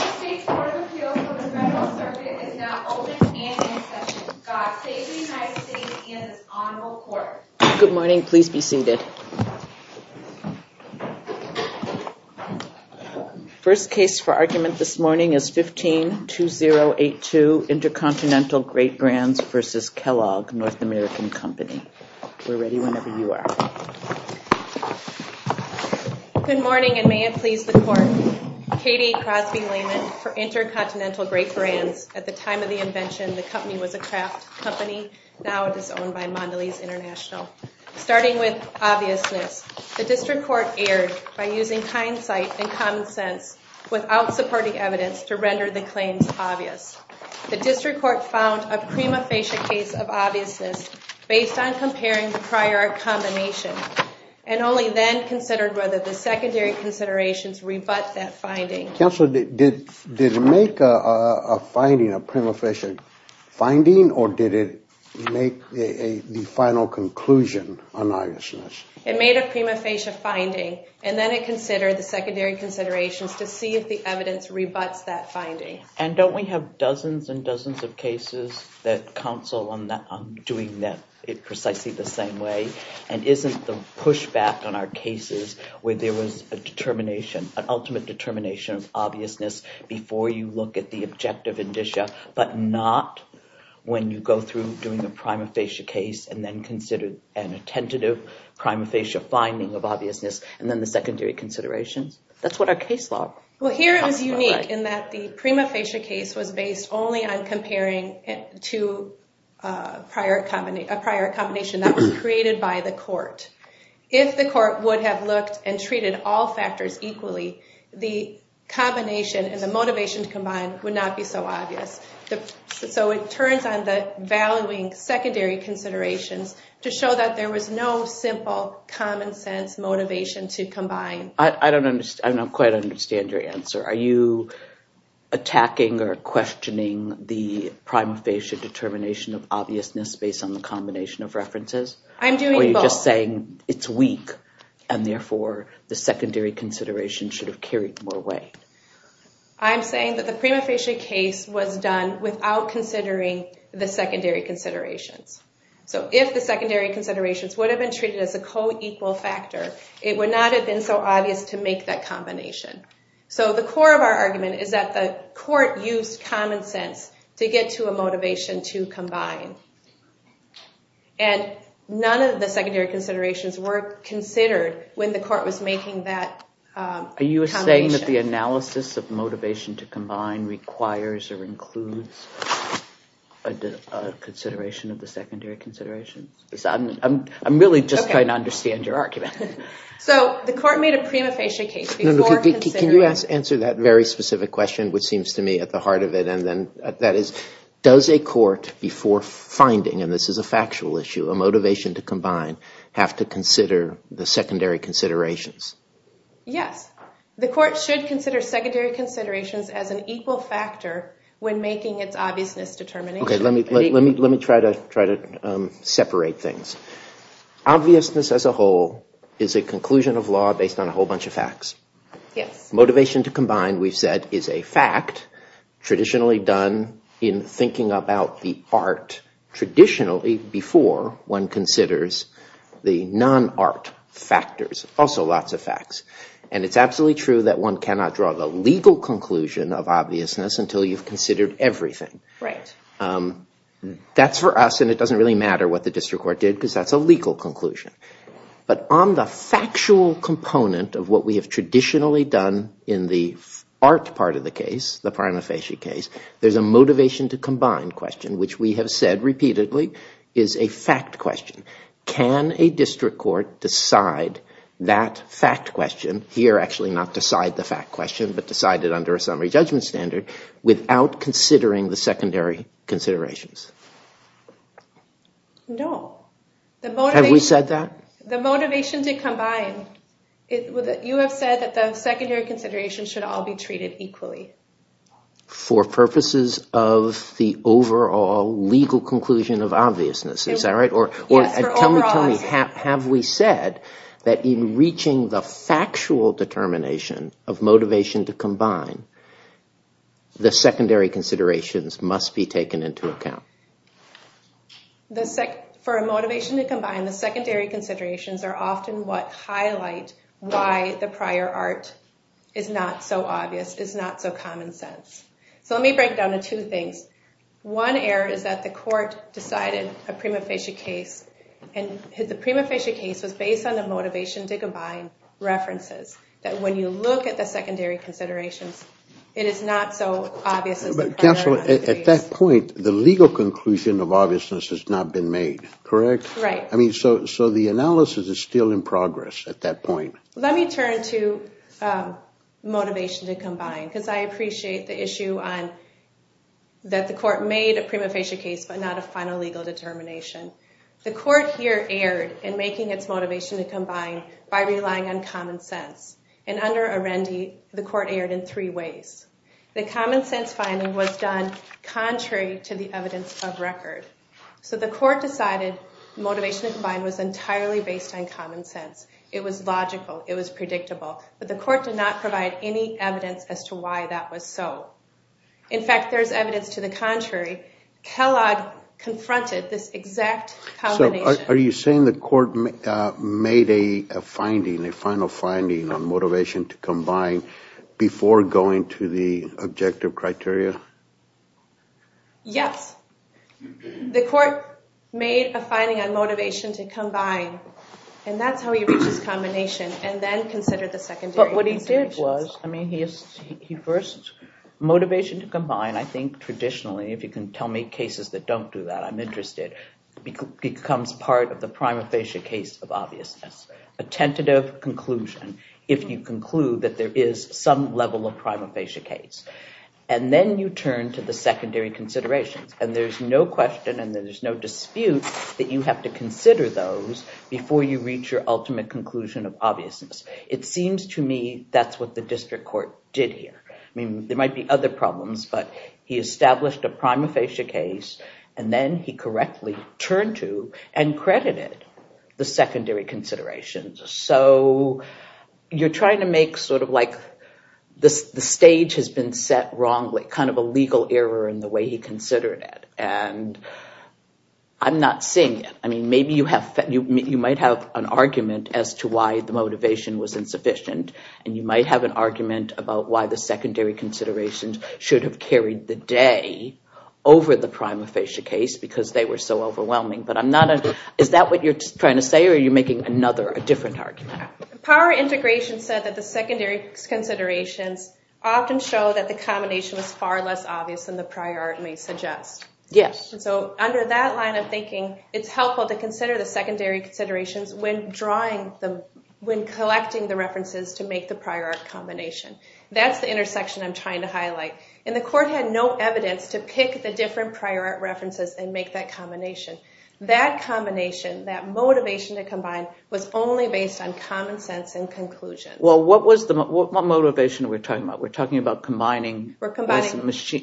If we were walking down the street inside of a book shop, handwriting is almost impossible because of the noise and the colors. It can be a gift, or a gift from God to a child. So when you side on a sidewalk, try coming in with both hands and approaching the customer in the southern direction right where the book is placed. Alright! Alright! The United States Court of Appeals for the Federal Circuit is now open and in session. God save the United States and this honorable court. Good morning, please be seated. First case for argument this morning is 15-2082, Intercontinental Great Brands v. Kellogg, North American Company. We're ready whenever you are. Good morning and may it please the court. Katie Crosby Lehman for Intercontinental Great Brands. At the time of the invention, the company was a craft company. Now it is owned by Mondelez International. Starting with obviousness, the district court erred by using hindsight and common sense without supporting evidence to render the claims obvious. The district court found a prima facie case of obviousness based on comparing the prior combination and only then considered whether the secondary considerations rebut that finding. Counsel, did it make a finding, a prima facie finding or did it make the final conclusion on obviousness? It made a prima facie finding and then it considered the secondary considerations to see if the evidence rebuts that finding. And don't we have dozens and dozens of cases that counsel on doing that precisely the same way and isn't the pushback on our cases where there was a determination, an ultimate determination of obviousness before you look at the objective indicia but not when you go through doing a prima facie case and then consider an attentive prima facie finding of obviousness and then the secondary considerations? That's what our case law talks about, right? Well, here it was unique in that the prima facie case was based only on comparing two prior combinations. That was created by the court. If the court would have looked and treated all factors equally, the combination and the motivation to combine would not be so obvious. So it turns on the valuing secondary considerations to show that there was no simple common sense motivation to combine. I don't quite understand your answer. Are you attacking or questioning the prima facie determination of obviousness based on the combination of references? I'm doing both. Or are you just saying it's weak and therefore the secondary consideration should have carried more weight? I'm saying that the prima facie case was done without considering the secondary considerations. So if the secondary considerations would have been treated as a co-equal factor, it would not have been so obvious to make that combination. So the core of our argument is that the court used common sense to get to a motivation to combine. And none of the secondary considerations were considered when the court was making that combination. Are you saying that the analysis of motivation to combine requires or includes a consideration of the secondary considerations? I'm really just trying to understand your argument. So the court made a prima facie case before considering. Can you answer that very specific question, which seems to me at the heart of it? That is, does a court before finding, and this is a factual issue, a motivation to combine, have to consider the secondary considerations? Yes. The court should consider secondary considerations as an equal factor when making its obviousness determination. Let me try to separate things. Obviousness as a whole is a conclusion of law based on a whole bunch of facts. Motivation to combine, we've said, is a fact traditionally done in thinking about the art traditionally before one considers the non-art factors. Also lots of facts. And it's absolutely true that one cannot draw the legal conclusion of obviousness until you've considered everything. That's for us, and it doesn't really matter what the district court did, because that's a legal conclusion. But on the factual component of what we have traditionally done in the art part of the case, the prima facie case, there's a motivation to combine question, which we have said repeatedly is a fact question. Can a district court decide that fact question, here actually not decide the fact question, but decide it under a summary judgment standard, without considering the secondary considerations? No. Have we said that? The motivation to combine, you have said that the secondary considerations should all be treated equally. For purposes of the overall legal conclusion of obviousness, is that right? Have we said that in reaching the factual determination of motivation to combine, the secondary considerations must be taken into account? For a motivation to combine, the secondary considerations are often what highlight why the prior art is not so obvious, is not so common sense. So let me break it down into two things. One error is that the court decided a prima facie case, and the prima facie case was based on the motivation to combine references. That when you look at the secondary considerations, it is not so obvious. At that point, the legal conclusion of obviousness has not been made, correct? Right. So the analysis is still in progress at that point. Let me turn to motivation to combine, because I appreciate the issue that the court made a prima facie case, but not a final legal determination. The court here erred in making its motivation to combine by relying on common sense. And under Arendi, the court erred in three ways. The common sense finding was done contrary to the evidence of record. So the court decided motivation to combine was entirely based on common sense. It was logical. It was predictable. But the court did not provide any evidence as to why that was so. In fact, there's evidence to the contrary. Kellogg confronted this exact combination. So are you saying the court made a finding, a final finding on motivation to combine before going to the objective criteria? Yes. The court made a finding on motivation to combine. And that's how he reached his combination, and then considered the secondary considerations. But what he did was, I mean, he first, motivation to combine, I think traditionally, if you can tell me cases that don't do that, I'm interested, becomes part of the prima facie case of obviousness. A tentative conclusion, if you conclude that there is some level of prima facie case. And then you turn to the secondary considerations. And there's no question and there's no dispute that you have to consider those before you reach your ultimate conclusion of obviousness. It seems to me that's what the district court did here. I mean, there might be other problems, but he established a prima facie case. And then he correctly turned to and credited the secondary considerations. So you're trying to make sort of like the stage has been set wrongly, kind of a legal error in the way he considered it. And I'm not seeing it. I mean, maybe you might have an argument as to why the motivation was insufficient. And you might have an argument about why the secondary considerations should have carried the day over the prima facie case because they were so overwhelming. But is that what you're trying to say, or are you making another, a different argument? Power integration said that the secondary considerations often show that the combination was far less obvious than the prior art may suggest. Yes. So under that line of thinking, it's helpful to consider the secondary considerations when collecting the references to make the prior art combination. And the court had no evidence to pick the different prior art references and make that combination. That combination, that motivation to combine, was only based on common sense and conclusion. Well, what motivation are we talking about? We're talking about combining, I keep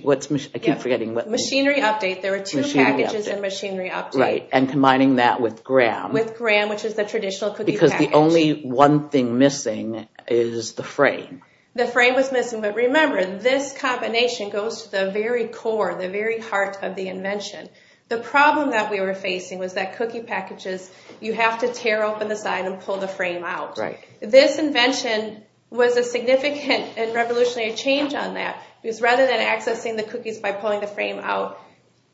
forgetting. Machinery update. There were two packages in machinery update. Right, and combining that with Graham. With Graham, which is the traditional cookie package. Because the only one thing missing is the frame. The frame was missing. But remember, this combination goes to the very core, the very heart of the invention. The problem that we were facing was that cookie packages, you have to tear open the side and pull the frame out. Right. This invention was a significant and revolutionary change on that. Because rather than accessing the cookies by pulling the frame out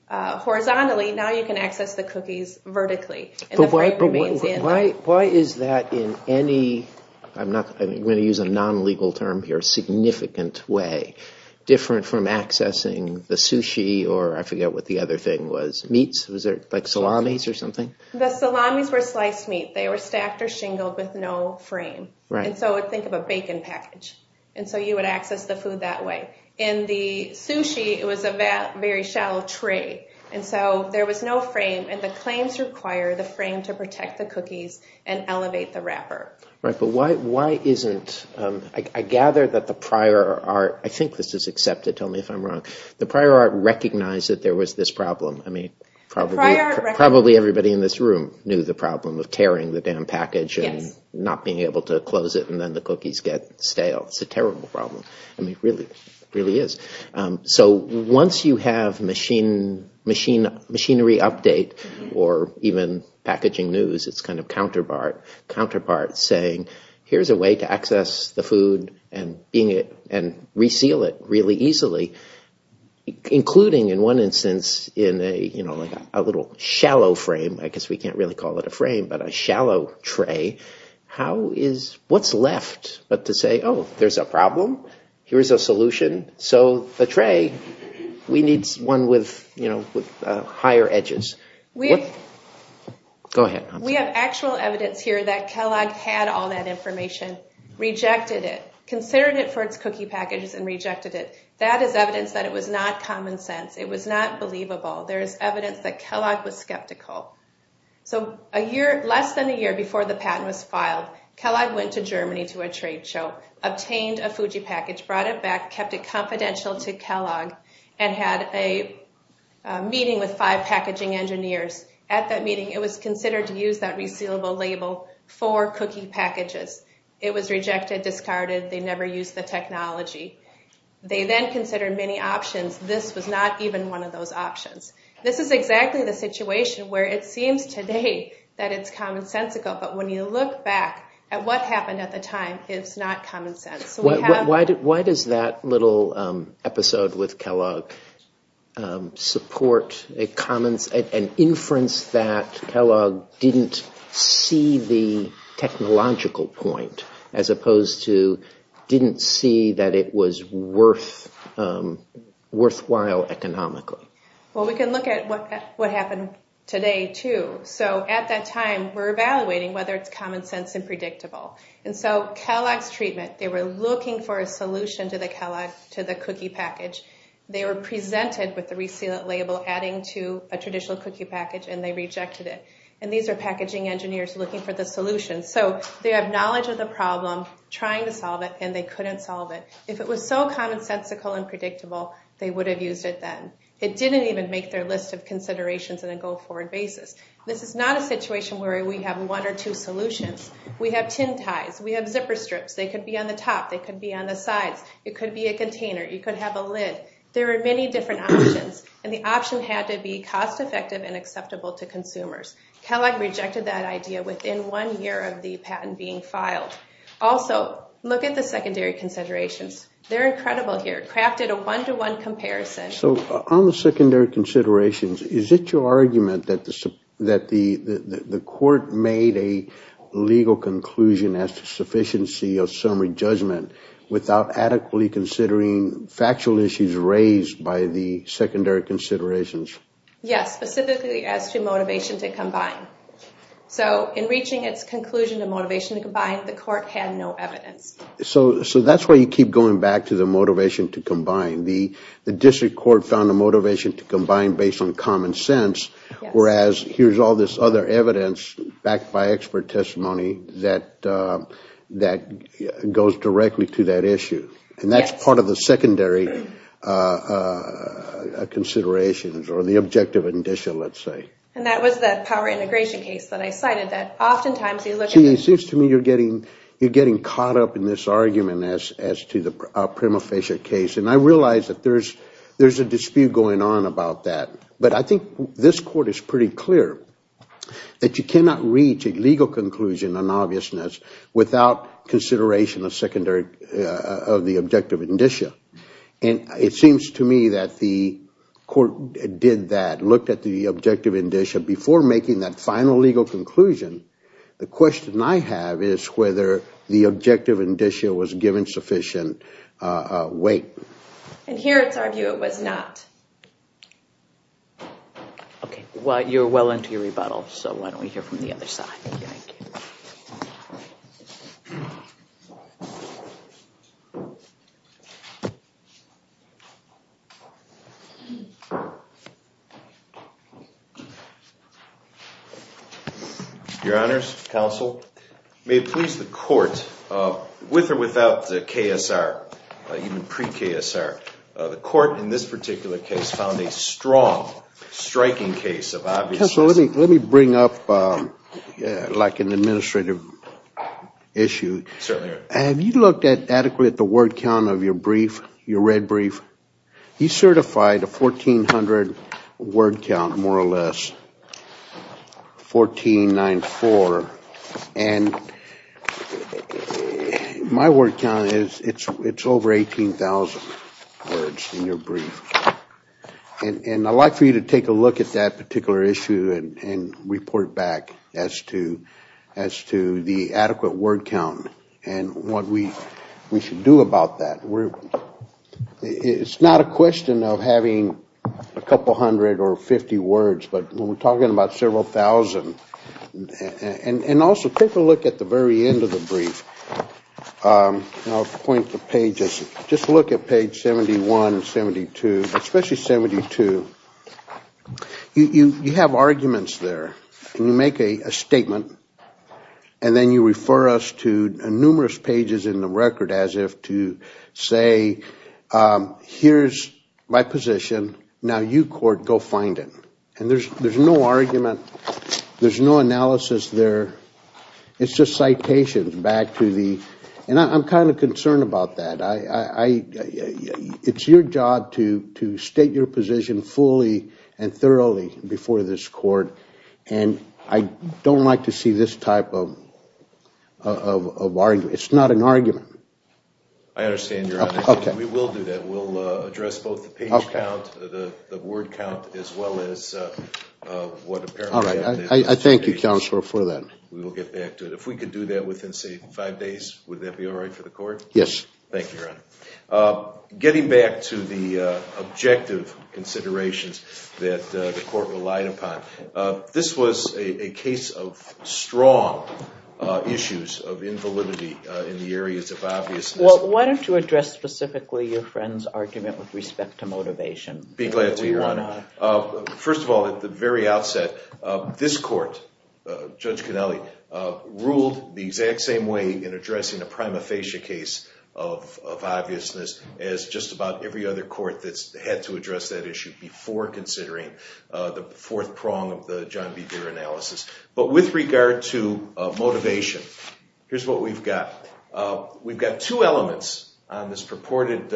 horizontally, now you can access the cookies vertically. But why is that in any, I'm going to use a non-legal term here, significant way, different from accessing the sushi or I forget what the other thing was, meats? Was there salamis or something? The salamis were sliced meat. They were stacked or shingled with no frame. And so think of a bacon package. And so you would access the food that way. In the sushi, it was a very shallow tray. And so there was no frame. And the claims require the frame to protect the cookies and elevate the wrapper. Right. But why isn't, I gather that the prior art, I think this is accepted. Tell me if I'm wrong. The prior art recognized that there was this problem. I mean, probably everybody in this room knew the problem of tearing the damn package and not being able to close it and then the cookies get stale. It's a terrible problem. I mean, it really is. So once you have machinery update or even packaging news, it's kind of counterpart saying, here's a way to access the food and reseal it really easily, including in one instance in a little shallow frame. I guess we can't really call it a frame, but a shallow tray. How is, what's left but to say, oh, there's a problem. Here's a solution. So the tray, we need one with higher edges. Go ahead. We have actual evidence here that Kellogg had all that information, rejected it, considered it for its cookie packages and rejected it. That is evidence that it was not common sense. It was not believable. There is evidence that Kellogg was skeptical. So a year, less than a year before the patent was filed, Kellogg went to Germany to a trade show, obtained a Fuji package, brought it back, kept it confidential to Kellogg and had a meeting with five packaging engineers. At that meeting, it was considered to use that resealable label for cookie packages. It was rejected, discarded. They never used the technology. They then considered many options. This was not even one of those options. This is exactly the situation where it seems today that it's commonsensical, but when you look back at what happened at the time, it's not common sense. Why does that little episode with Kellogg support an inference that Kellogg didn't see the technological point as opposed to didn't see that it was worthwhile economically? Well, we can look at what happened today, too. So at that time, we're evaluating whether it's common sense and predictable. And so Kellogg's treatment, they were looking for a solution to the cookie package. They were presented with the resealable label adding to a traditional cookie package, and they rejected it. And these are packaging engineers looking for the solution. So they have knowledge of the problem, trying to solve it, and they couldn't solve it. If it was so commonsensical and predictable, they would have used it then. It didn't even make their list of considerations on a go-forward basis. This is not a situation where we have one or two solutions. We have tin ties. We have zipper strips. They could be on the top. They could be on the sides. It could be a container. You could have a lid. There are many different options, and the option had to be cost-effective and acceptable to consumers. Kellogg rejected that idea within one year of the patent being filed. Also, look at the secondary considerations. They're incredible here. Crafted a one-to-one comparison. So on the secondary considerations, is it your argument that the court made a legal conclusion as to sufficiency of summary judgment without adequately considering factual issues raised by the secondary considerations? Yes, specifically as to motivation to combine. So in reaching its conclusion of motivation to combine, the court had no evidence. So that's why you keep going back to the motivation to combine. The district court found a motivation to combine based on common sense, whereas here's all this other evidence, backed by expert testimony, that goes directly to that issue. And that's part of the secondary considerations, or the objective indicia, let's say. And that was that power integration case that I cited that oftentimes you look at the You're getting caught up in this argument as to the prima facie case. And I realize that there's a dispute going on about that. But I think this court is pretty clear that you cannot reach a legal conclusion on obviousness without consideration of the objective indicia. And it seems to me that the court did that, looked at the objective indicia before making that final legal conclusion. The question I have is whether the objective indicia was given sufficient weight. And here it's argued it was not. Okay. Well, you're well into your rebuttal, so why don't we hear from the other side. Thank you. Your Honors, Counsel, may it please the court, with or without the KSR, even pre-KSR, the court in this particular case found a strong, striking case of obviousness. Counsel, let me bring up like an administrative issue. Certainly. Have you looked adequately at the word count of your brief, your red brief? He certified a 1,400 word count, more or less, 1,494. And my word count is over 18,000 words in your brief. And I'd like for you to take a look at that particular issue and report back as to the adequate word count and what we should do about that. It's not a question of having a couple hundred or 50 words, but when we're talking about several thousand, and also take a look at the very end of the brief. I'll point the pages. Just look at page 71 and 72, especially 72. You have arguments there, and you make a statement, and then you refer us to numerous pages in the record as if to say, here's my position, now you, court, go find it. And there's no argument. There's no analysis there. It's just citations back to the, and I'm kind of concerned about that. It's your job to state your position fully and thoroughly before this court, and I don't like to see this type of argument. It's not an argument. I understand, Your Honor. We will do that. We'll address both the page count, the word count, as well as what apparently happened in those pages. All right. I thank you, Counselor, for that. We will get back to it. If we could do that within, say, five days, would that be all right for the court? Yes. Thank you, Your Honor. Getting back to the objective considerations that the court relied upon, this was a case of strong issues of invalidity in the areas of obviousness. Why don't you address specifically your friend's argument with respect to motivation? Be glad to, Your Honor. First of all, at the very outset, this court, Judge Conelli, ruled the exact same way in addressing a prima facie case of obviousness as just about every other court that's had to address that issue before considering the fourth prong of the John B. Deere analysis. But with regard to motivation, here's what we've got. We've got two elements on this purported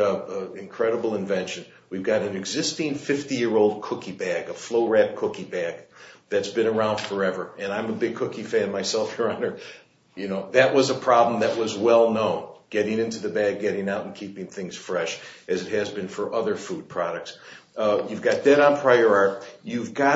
incredible invention. We've got an existing 50-year-old cookie bag, a flow-wrapped cookie bag, that's been around forever, and I'm a big cookie fan myself, Your Honor. That was a problem that was well known, getting into the bag, getting out, and keeping things fresh, as it has been for other food products. You've got that on prior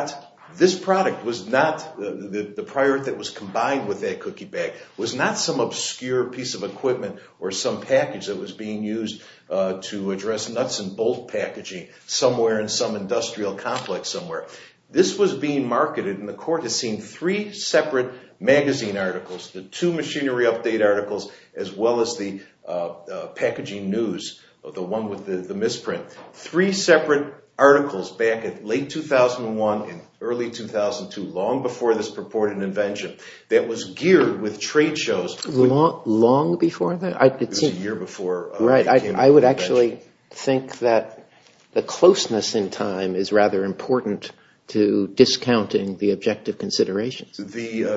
art. This product was not, the prior art that was combined with that cookie bag, was not some obscure piece of equipment or some package that was being used to address nuts-and-bolts packaging somewhere in some industrial complex somewhere. This was being marketed, and the court has seen three separate magazine articles, the two machinery update articles, as well as the packaging news, the one with the misprint, three separate articles back in late 2001 and early 2002, long before this purported invention, that was geared with trade shows. Long before that? It was a year before it became an invention. I would actually think that the closeness in time is rather important to discounting the objective considerations,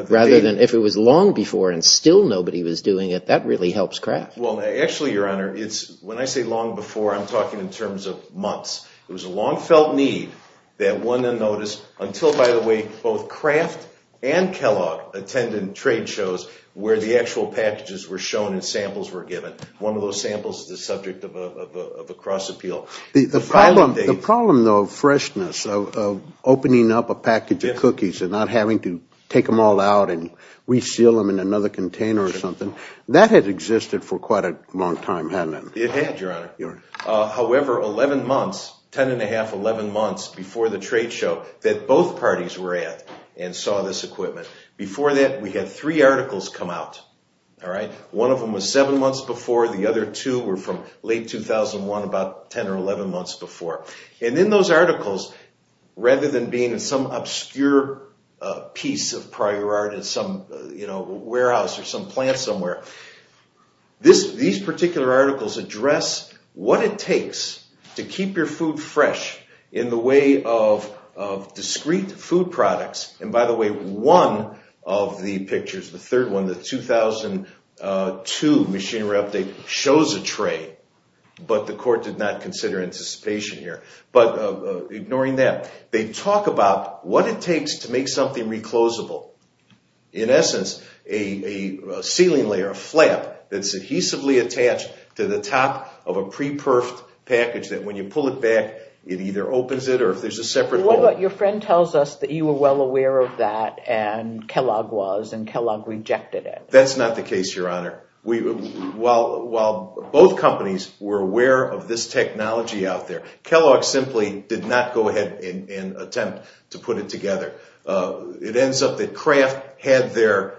rather than if it was long before and still nobody was doing it, that really helps craft. Well, actually, Your Honor, when I say long before, I'm talking in terms of months. It was a long-felt need that one then noticed until, by the way, both Kraft and Kellogg attended trade shows where the actual packages were shown and samples were given. One of those samples is the subject of a cross-appeal. The problem, though, of freshness, of opening up a package of cookies and not having to take them all out and reseal them in another container or something, that had existed for quite a long time, hadn't it? It had, Your Honor. However, 11 months, 10 1⁄2, 11 months before the trade show, that both parties were at and saw this equipment. Before that, we had three articles come out. One of them was seven months before. The other two were from late 2001, about 10 or 11 months before. And in those articles, rather than being in some obscure piece of prior art in some warehouse or some plant somewhere, these particular articles address what it takes to keep your food fresh in the way of discrete food products. And by the way, one of the pictures, the third one, the 2002 machinery update, shows a tray, but the court did not consider anticipation here. But ignoring that, they talk about what it takes to make something reclosable. In essence, a ceiling layer, a flap, that's adhesively attached to the top of a pre-perfed package that when you pull it back, it either opens it or if there's a separate hole. What about your friend tells us that you were well aware of that and Kellogg was and Kellogg rejected it? That's not the case, Your Honor. While both companies were aware of this technology out there, Kellogg simply did not go ahead and attempt to put it together. It ends up that Kraft had their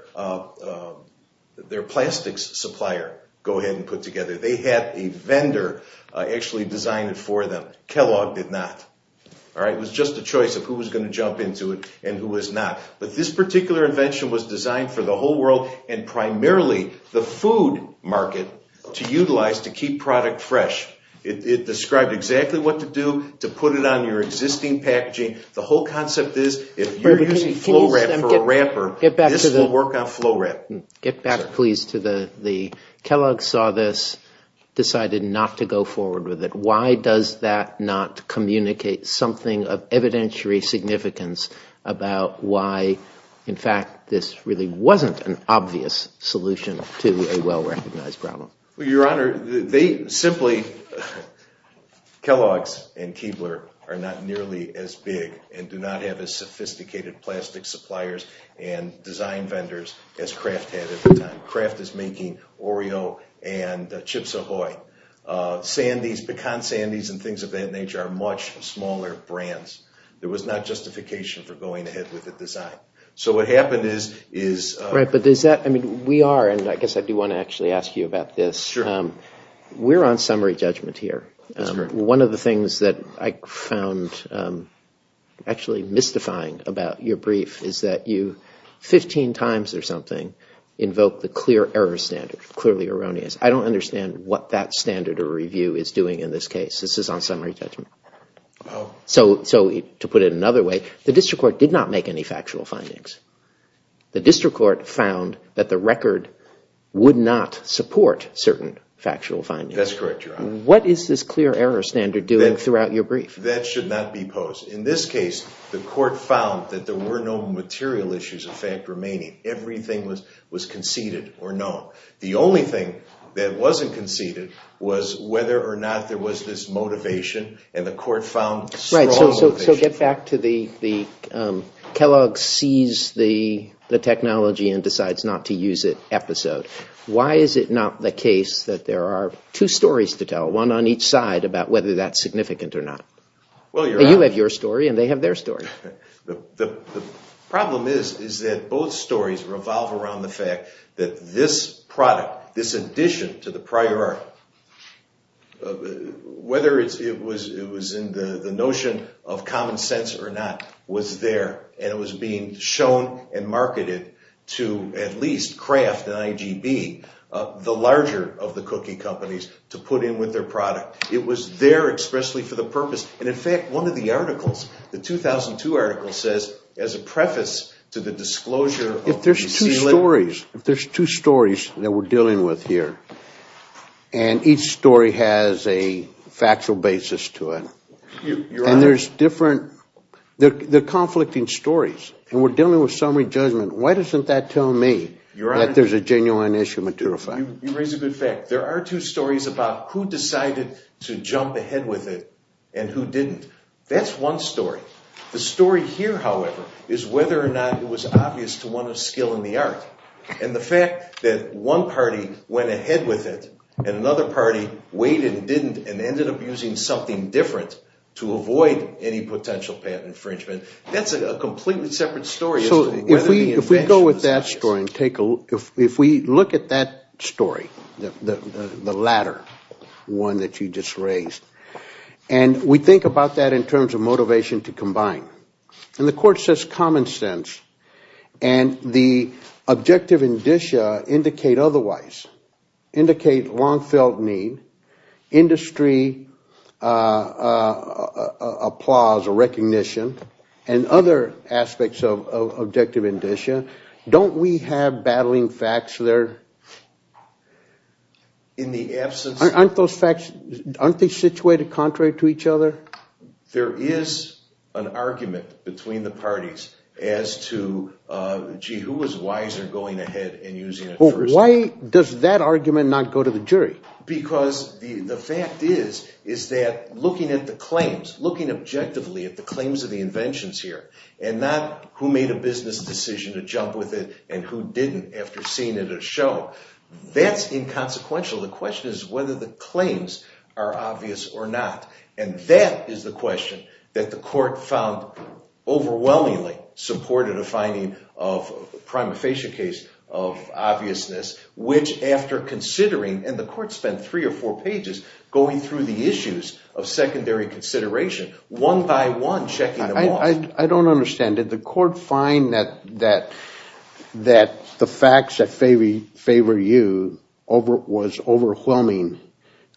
plastics supplier go ahead and put together. They had a vendor actually design it for them. Kellogg did not. It was just a choice of who was going to jump into it and who was not. But this particular invention was designed for the whole world and primarily the food market to utilize to keep product fresh. It described exactly what to do to put it on your existing packaging. The whole concept is if you're using FlowRap for a wrapper, this will work on FlowRap. Get back, please, to the Kellogg saw this, decided not to go forward with it. Why does that not communicate something of evidentiary significance about why, in fact, this really wasn't an obvious solution to a well-recognized problem? Your Honor, simply, Kellogg's and Keebler are not nearly as big and do not have as sophisticated plastic suppliers and design vendors as Kraft had at the time. Kraft is making Oreo and Chips Ahoy. Sandy's, Pecan Sandy's, and things of that nature are much smaller brands. There was not justification for going ahead with the design. So what happened is… We are, and I guess I do want to actually ask you about this. We're on summary judgment here. One of the things that I found actually mystifying about your brief is that you 15 times or something invoke the clear error standard, clearly erroneous. I don't understand what that standard or review is doing in this case. This is on summary judgment. To put it another way, the district court did not make any factual findings. The district court found that the record would not support certain factual findings. That's correct, Your Honor. What is this clear error standard doing throughout your brief? That should not be posed. In this case, the court found that there were no material issues of fact remaining. Everything was conceded or known. The only thing that wasn't conceded was whether or not there was this motivation, and the court found strong motivation. So get back to the Kellogg sees the technology and decides not to use it episode. Why is it not the case that there are two stories to tell, one on each side about whether that's significant or not? You have your story and they have their story. The problem is that both stories revolve around the fact that this product, this addition to the prior art, whether it was in the notion of common sense or not, was there, and it was being shown and marketed to at least craft an IGB, the larger of the cookie companies, to put in with their product. It was there expressly for the purpose. And, in fact, one of the articles, the 2002 article, says as a preface to the disclosure of the sealant. If there's two stories that we're dealing with here, and each story has a factual basis to it, and there's different conflicting stories, and we're dealing with summary judgment, why doesn't that tell me that there's a genuine issue material fact? You raise a good fact. There are two stories about who decided to jump ahead with it and who didn't. That's one story. The story here, however, is whether or not it was obvious to one of skill in the art, and the fact that one party went ahead with it and another party waited and didn't and ended up using something different to avoid any potential patent infringement, that's a completely separate story. So if we go with that story and take a look, if we look at that story, the latter one that you just raised, and we think about that in terms of motivation to combine. And the court says common sense, and the objective indicia indicate otherwise, indicate long-felt need, industry applause or recognition, and other aspects of objective indicia. Don't we have battling facts there? Aren't those facts situated contrary to each other? There is an argument between the parties as to, gee, who was wiser going ahead and using it first? Why does that argument not go to the jury? Because the fact is that looking at the claims, looking objectively at the claims of the inventions here, and not who made a business decision to jump with it and who didn't after seeing it at a show, that's inconsequential. The question is whether the claims are obvious or not. And that is the question that the court found overwhelmingly supported a finding of a prima facie case of obviousness, which after considering, and the court spent three or four pages going through the issues of secondary consideration, one by one checking them off. I don't understand. Did the court find that the facts that favor you was overwhelming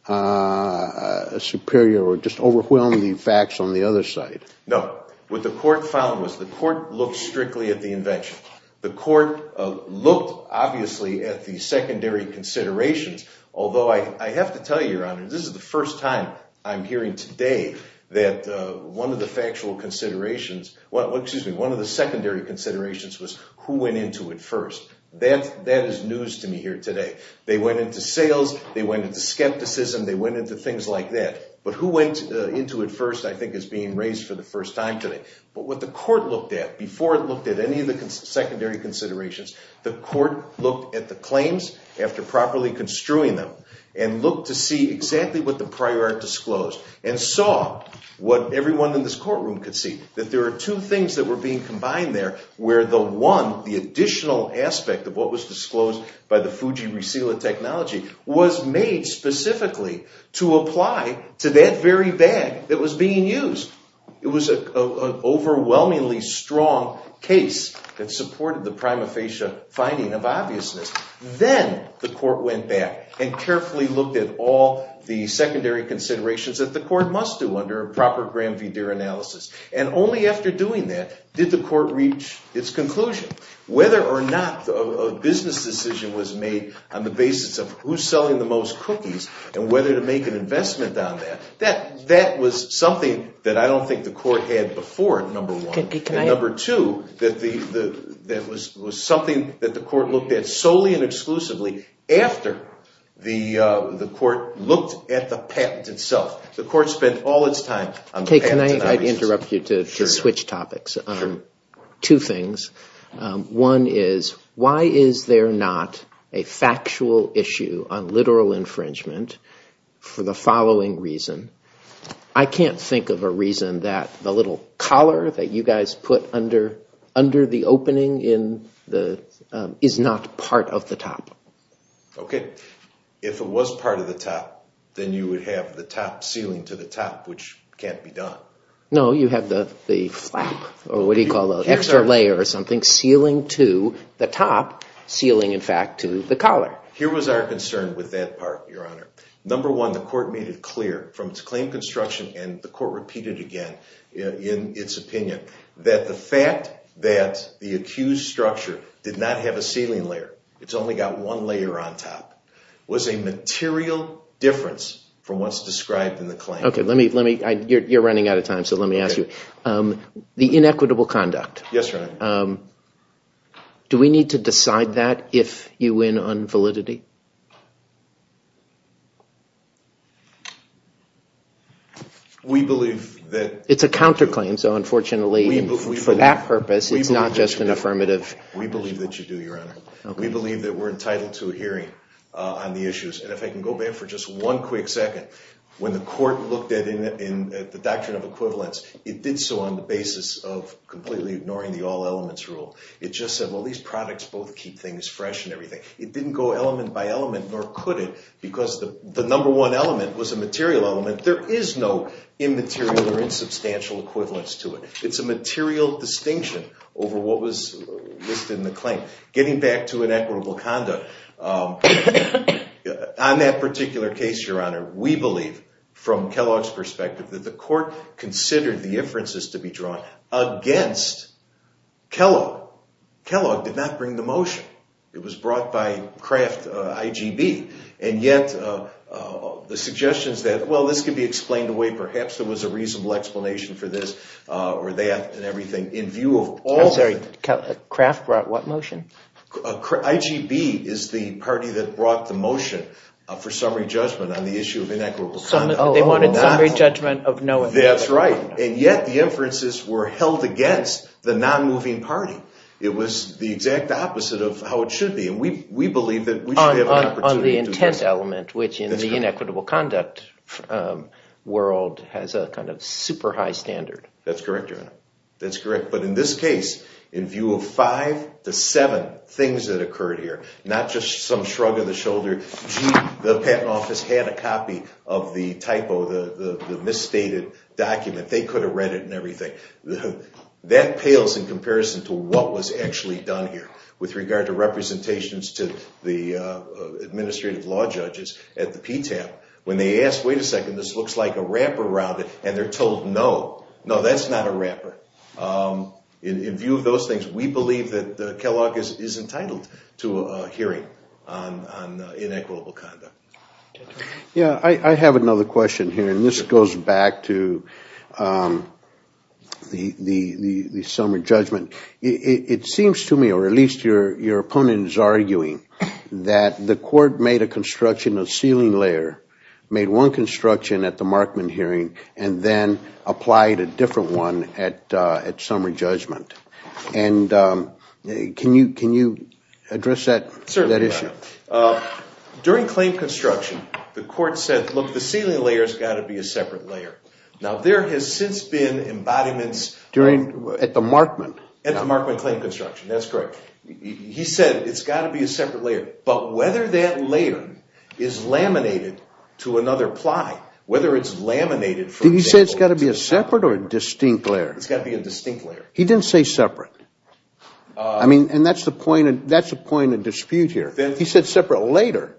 superior or just overwhelming facts on the other side? No. What the court found was the court looked strictly at the invention. The court looked, obviously, at the secondary considerations, although I have to tell you, Your Honor, this is the first time I'm hearing today that one of the factual considerations, excuse me, one of the secondary considerations was who went into it first. That is news to me here today. They went into sales. They went into skepticism. They went into things like that. But who went into it first I think is being raised for the first time today. But what the court looked at before it looked at any of the secondary considerations, the court looked at the claims after properly construing them and looked to see exactly what the prior art disclosed and saw what everyone in this courtroom could see, that there are two things that were being combined there where the one, the additional aspect of what was disclosed by the Fuji Resila technology was made specifically to apply to that very bag that was being used. It was an overwhelmingly strong case that supported the prima facie finding of obviousness. Then the court went back and carefully looked at all the secondary considerations that the court must do under a proper Graham v. Deere analysis. And only after doing that did the court reach its conclusion. Whether or not a business decision was made on the basis of who's selling the most cookies and whether to make an investment on that, that was something that I don't think the court had before, number one. And number two, that was something that the court looked at solely and exclusively after the court looked at the patent itself. The court spent all its time on the patent of obviousness. Can I interrupt you to switch topics on two things? One is, why is there not a factual issue on literal infringement for the following reason? I can't think of a reason that the little collar that you guys put under the opening is not part of the top. Okay. If it was part of the top, then you would have the top sealing to the top, which can't be done. No, you have the flap, or what do you call that, extra layer or something, sealing to the top, sealing in fact to the collar. Here was our concern with that part, Your Honor. Number one, the court made it clear from its claim construction, and the court repeated again in its opinion, that the fact that the accused structure did not have a sealing layer, it's only got one layer on top, was a material difference from what's described in the claim. Okay. You're running out of time, so let me ask you. The inequitable conduct. Yes, Your Honor. Do we need to decide that if you win on validity? We believe that... It's a counterclaim, so unfortunately for that purpose, it's not just an affirmative. We believe that you do, Your Honor. We believe that we're entitled to a hearing on the issues. And if I can go back for just one quick second, when the court looked at the doctrine of equivalence, it did so on the basis of completely ignoring the all elements rule. It just said, well, these products both keep things fresh and everything. It didn't go element by element. Nor could it, because the number one element was a material element. There is no immaterial or insubstantial equivalence to it. It's a material distinction over what was listed in the claim. Getting back to inequitable conduct, on that particular case, Your Honor, we believe, from Kellogg's perspective, that the court considered the inferences to be drawn against Kellogg. Kellogg did not bring the motion. It was brought by Kraft, IGB. And yet the suggestions that, well, this could be explained away, perhaps there was a reasonable explanation for this or that and everything, in view of all of it. I'm sorry, Kraft brought what motion? IGB is the party that brought the motion for summary judgment on the issue of inequitable conduct. They wanted summary judgment of no effect. That's right. And yet the inferences were held against the non-moving party. It was the exact opposite of how it should be, and we believe that we should have an opportunity to do this. On the intent element, which in the inequitable conduct world has a kind of super high standard. That's correct, Your Honor. That's correct. But in this case, in view of five to seven things that occurred here, not just some shrug of the shoulder, gee, the patent office had a copy of the typo, the misstated document. They could have read it and everything. That pales in comparison to what was actually done here with regard to representations to the administrative law judges at the PTAP. When they asked, wait a second, this looks like a wrapper around it, and they're told, no, no, that's not a wrapper. In view of those things, we believe that Kellogg is entitled to a hearing on inequitable conduct. I have another question here, and this goes back to the summary judgment. It seems to me, or at least your opponent is arguing, that the court made a construction of ceiling layer, made one construction at the Markman hearing, and then applied a different one at summary judgment. Can you address that issue? During claim construction, the court said, look, the ceiling layer has got to be a separate layer. Now, there has since been embodiments. At the Markman? At the Markman claim construction, that's correct. He said it's got to be a separate layer. But whether that layer is laminated to another ply, whether it's laminated, for example. Did he say it's got to be a separate or distinct layer? It's got to be a distinct layer. He didn't say separate. I mean, and that's the point of dispute here. He said separate later.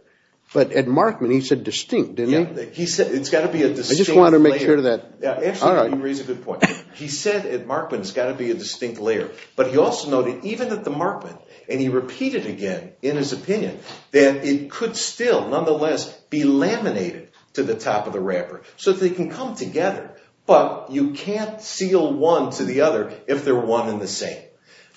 But at Markman, he said distinct, didn't he? He said it's got to be a distinct layer. I just wanted to make sure of that. Actually, you raise a good point. He said at Markman it's got to be a distinct layer. But he also noted, even at the Markman, and he repeated again in his opinion, that it could still, nonetheless, be laminated to the top of the wrapper, so that they can come together. But you can't seal one to the other if they're one and the same.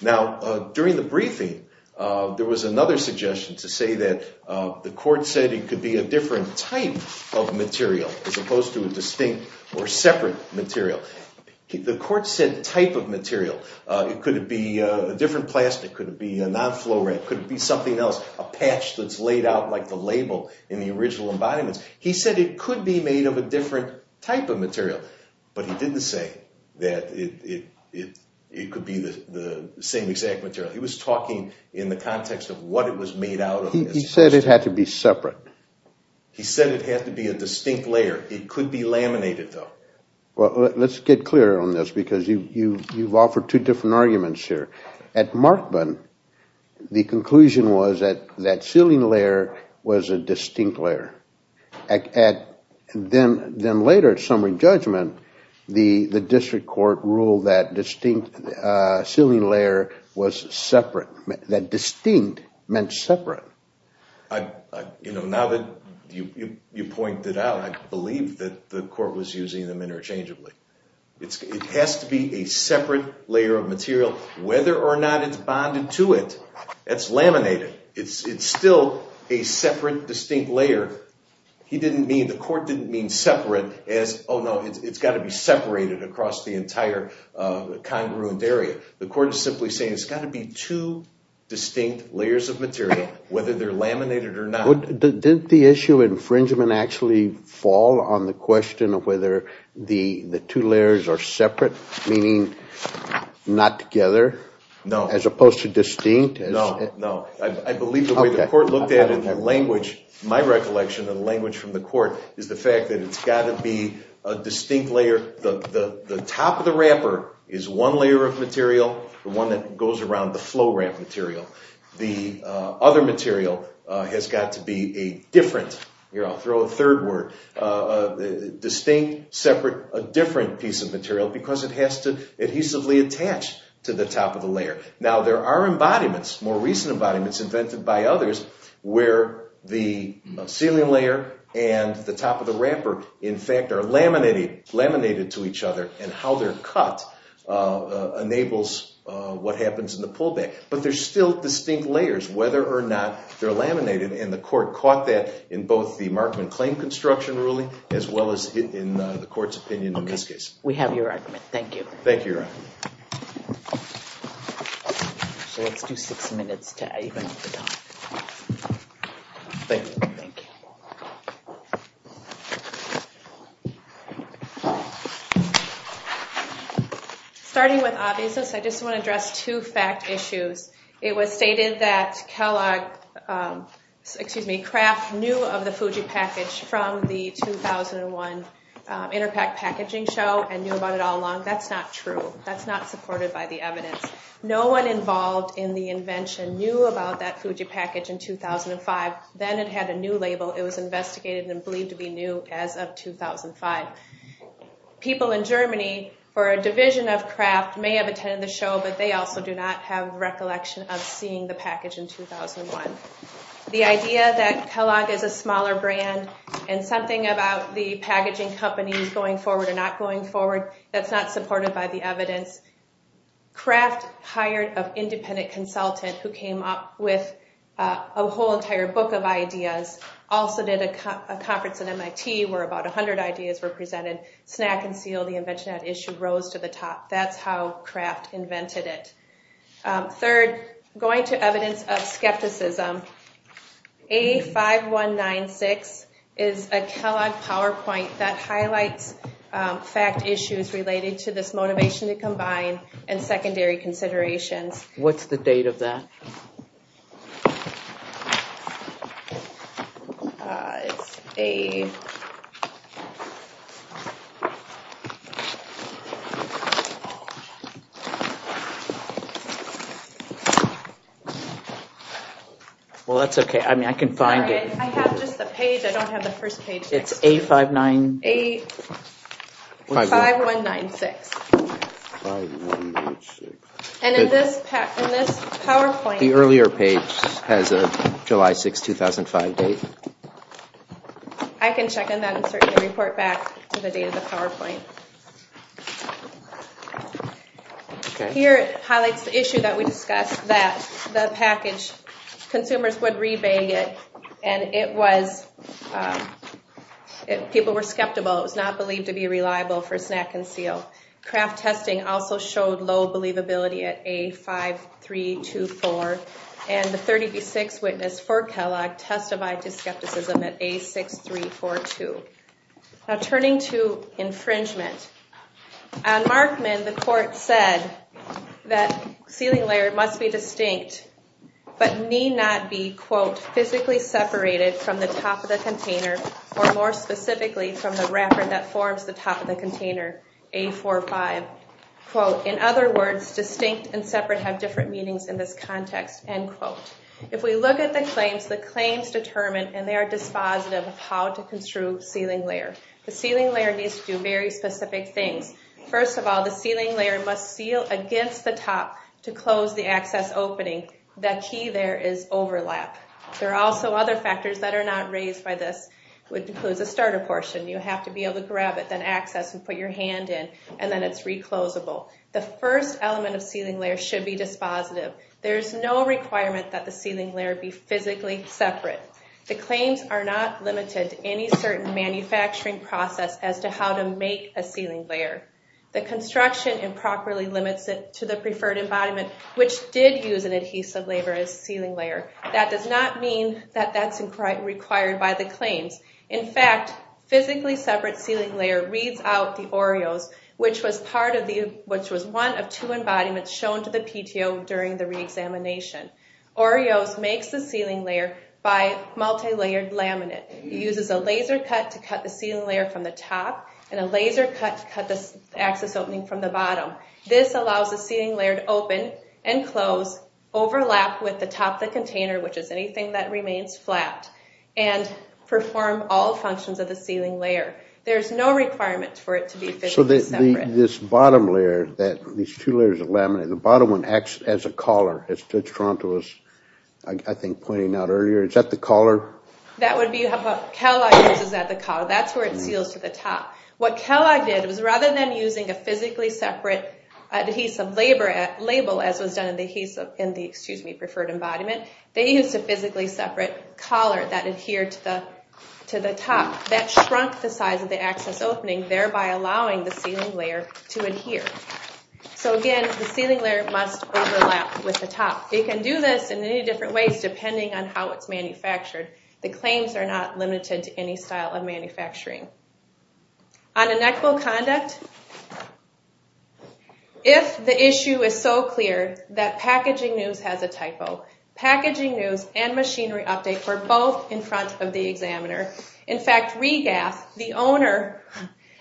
Now, during the briefing, there was another suggestion to say that the court said it could be a different type of material as opposed to a distinct or separate material. The court said type of material. Could it be a different plastic? Could it be a non-fluorite? Could it be something else, a patch that's laid out like the label in the original embodiments? He said it could be made of a different type of material. But he didn't say that it could be the same exact material. He was talking in the context of what it was made out of. He said it had to be separate. He said it had to be a distinct layer. It could be laminated, though. Well, let's get clear on this, because you've offered two different arguments here. At Markman, the conclusion was that that sealing layer was a distinct layer. Then later, at summary judgment, the district court ruled that distinct sealing layer was separate, that distinct meant separate. Now that you've pointed it out, I believe that the court was using them interchangeably. It has to be a separate layer of material. Whether or not it's bonded to it, that's laminated. It's still a separate, distinct layer. He didn't mean, the court didn't mean separate as, oh, no, it's got to be separated across the entire congruent area. The court is simply saying it's got to be two distinct layers of material, whether they're laminated or not. Didn't the issue of infringement actually fall on the question of whether the two layers are separate, meaning not together? No. As opposed to distinct? No, no. I believe the way the court looked at it in the language, my recollection of the language from the court, is the fact that it's got to be a distinct layer. The top of the wrapper is one layer of material, the one that goes around the flow ramp material. The other material has got to be a different, here I'll throw a third word, distinct, separate, different piece of material, because it has to adhesively attach to the top of the layer. Now, there are embodiments, more recent embodiments invented by others, where the ceiling layer and the top of the wrapper, in fact, are laminated to each other, and how they're cut enables what happens in the pullback. But there's still distinct layers, whether or not they're laminated, and the court caught that in both the Markman claim construction ruling as well as in the court's opinion in this case. Thank you. Thank you, Your Honor. So let's do six minutes to even up the time. Starting with obviousness, I just want to address two fact issues. It was stated that Kellogg, excuse me, Kraft, knew of the Fuji package from the 2001 Interpac packaging show and knew about it all along. That's not true. That's not supported by the evidence. No one involved in the invention knew about that Fuji package in 2005. Then it had a new label. It was investigated and believed to be new as of 2005. People in Germany for a division of Kraft may have attended the show, but they also do not have recollection of seeing the package in 2001. The idea that Kellogg is a smaller brand and something about the packaging companies going forward or not going forward, that's not supported by the evidence. Kraft hired an independent consultant who came up with a whole entire book of ideas, also did a conference at MIT where about 100 ideas were presented. Snack and Seal, the invention at issue, rose to the top. That's how Kraft invented it. Third, going to evidence of skepticism, A5196 is a Kellogg PowerPoint that highlights fact issues related to this motivation to combine and secondary considerations. What's the date of that? Well, that's okay. I can find it. I have just the page. I don't have the first page. It's A5196. And in this PowerPoint... The earlier page has a July 6, 2005 date. I can check on that and certainly report back to the date of the PowerPoint. Here it highlights the issue that we discussed, that the package, consumers would rebate it, and people were skeptical. It was not believed to be reliable for Snack and Seal. Kraft testing also showed low believability at A5324, and the 36 witness for Kellogg testified to skepticism at A6342. Now turning to infringement, on Markman, the court said that sealing layer must be distinct but need not be, quote, physically separated from the top of the container or more specifically from the wrapper that forms the top of the container, A45. Quote, in other words, distinct and separate have different meanings in this context. End quote. If we look at the claims, the claims determine and they are dispositive of how to construe sealing layer. The sealing layer needs to do very specific things. First of all, the sealing layer must seal against the top to close the access opening. The key there is overlap. There are also other factors that are not raised by this, which includes the starter portion. You have to be able to grab it, then access and put your hand in, and then it's reclosable. The first element of sealing layer should be dispositive. There is no requirement that the sealing layer be physically separate. The claims are not limited to any certain manufacturing process as to how to make a sealing layer. The construction improperly limits it to the preferred embodiment, which did use an adhesive labor as sealing layer. That does not mean that that's required by the claims. In fact, physically separate sealing layer reads out the Oreos, which was one of two embodiments shown to the PTO during the reexamination. Oreos makes the sealing layer by multilayered laminate. It uses a laser cut to cut the sealing layer from the top and a laser cut to cut the access opening from the bottom. This allows the sealing layer to open and close, overlap with the top of the container, which is anything that remains flat, and perform all functions of the sealing layer. There's no requirement for it to be physically separate. So this bottom layer, these two layers of laminate, the bottom one acts as a collar, as Toronto was, I think, pointing out earlier. Is that the collar? That would be what Kellogg uses as the collar. That's where it seals to the top. What Kellogg did was rather than using a physically separate adhesive label as was done in the preferred embodiment, they used a physically separate collar that adhered to the top. That shrunk the size of the access opening, thereby allowing the sealing layer to adhere. So again, the sealing layer must overlap with the top. They can do this in many different ways depending on how it's manufactured. The claims are not limited to any style of manufacturing. On inequal conduct, if the issue is so clear that Packaging News has a typo, Packaging News and Machinery Update were both in front of the examiner. In fact, Regath, the owner,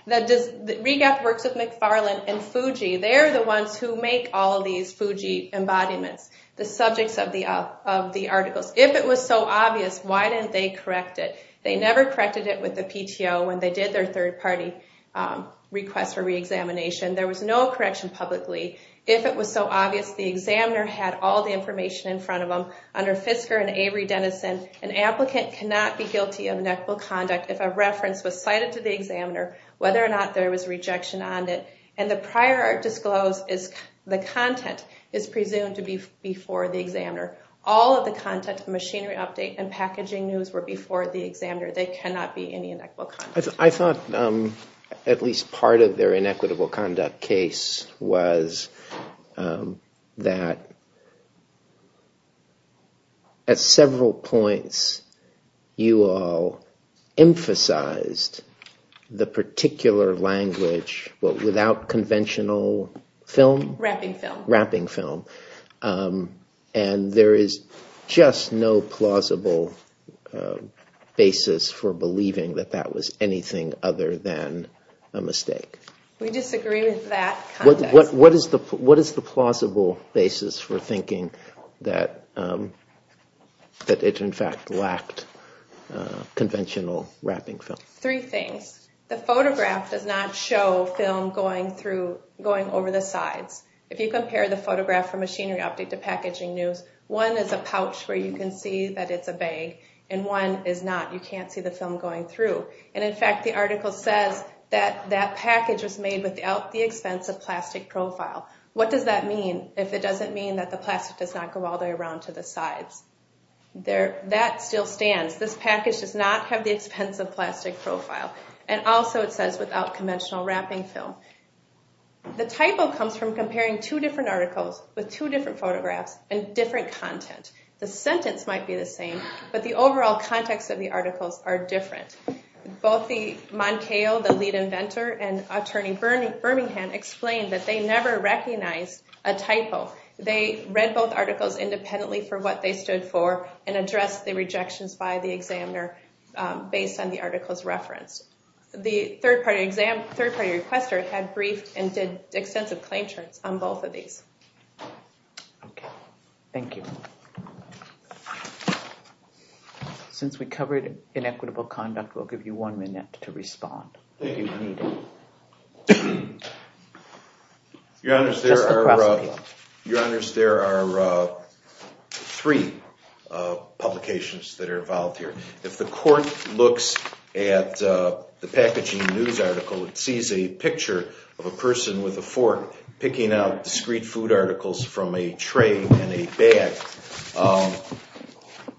Regath Works of McFarland and Fuji, they're the ones who make all these Fuji embodiments, the subjects of the articles. If it was so obvious, why didn't they correct it? They never corrected it with the PTO when they did their third-party request for reexamination. There was no correction publicly. If it was so obvious, the examiner had all the information in front of them. Under Fisker and Avery-Denison, an applicant cannot be guilty of inequitable conduct if a reference was cited to the examiner, whether or not there was rejection on it, and the prior art disclosed is the content is presumed to be before the examiner. All of the content of Machinery Update and Packaging News were before the examiner. There cannot be any inequitable conduct. I thought at least part of their inequitable conduct case was that at several points, you all emphasized the particular language without conventional film? Wrapping film. And there is just no plausible basis for believing that that was anything other than a mistake? We disagree with that context. What is the plausible basis for thinking that it in fact lacked conventional wrapping film? Three things. The photograph does not show film going over the sides. If you compare the photograph from Machinery Update to Packaging News, one is a pouch where you can see that it's a bag, and one is not. You can't see the film going through. And in fact, the article says that that package was made without the expense of plastic profile. What does that mean if it doesn't mean that the plastic does not go all the way around to the sides? That still stands. This package does not have the expense of plastic profile. And also it says without conventional wrapping film. The typo comes from comparing two different articles with two different photographs and different content. The sentence might be the same, but the overall context of the articles are different. Both the Moncayo, the lead inventor, and attorney Birmingham explained that they never recognized a typo. They read both articles independently for what they stood for and addressed the rejections by the examiner based on the articles referenced. The third-party requester had briefed and did extensive claim charts on both of these. Thank you. Since we covered inequitable conduct, we'll give you one minute to respond. Thank you. Your Honors, there are three publications that are involved here. If the court looks at the packaging news article, it sees a picture of a person with a fork picking out discreet food articles from a tray and a bag.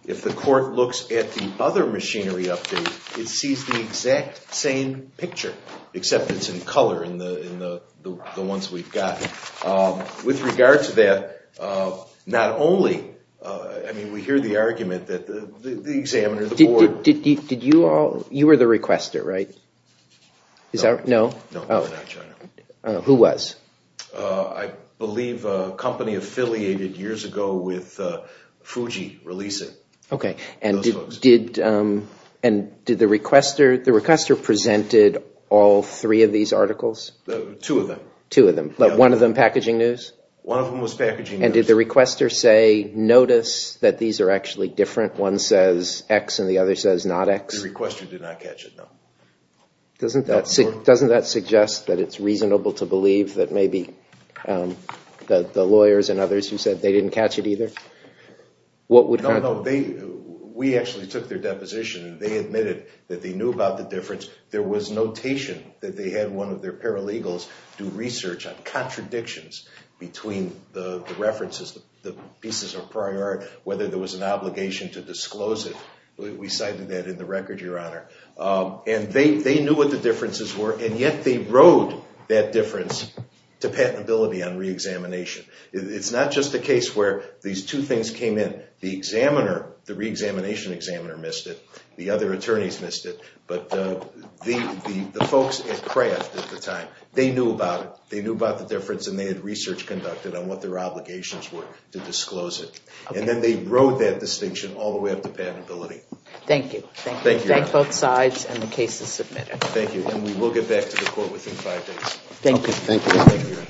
If the court looks at the other machinery update, it sees the exact same picture, except it's in color in the ones we've got. With regard to that, not only... I mean, we hear the argument that the examiner, the board... Did you all... you were the requester, right? No, we're not, Your Honor. Who was? I believe a company affiliated years ago with Fuji releasing those books. Okay, and did the requester... the requester presented all three of these articles? Two of them. Two of them, but one of them packaging news? One of them was packaging news. And did the requester say, notice that these are actually different? One says X and the other says not X? The requester did not catch it, no. Doesn't that suggest that it's reasonable to believe that maybe the lawyers and others who said they didn't catch it either? What would... No, no. We actually took their deposition. They admitted that they knew about the difference. There was notation that they had one of their paralegals do research on contradictions between the references, the pieces of prior... whether there was an obligation to disclose it. We cited that in the record, Your Honor. And they knew what the differences were, and yet they rode that difference to patentability on reexamination. It's not just a case where these two things came in. The examiner, the reexamination examiner missed it. The other attorneys missed it. But the folks at Kraft at the time, they knew about it. They knew about the difference, and they had research conducted on what their obligations were to disclose it. And then they rode that distinction all the way up to patentability. Thank you. Thank both sides, and the case is submitted. Thank you, and we will get back to the court within five days. Thank you.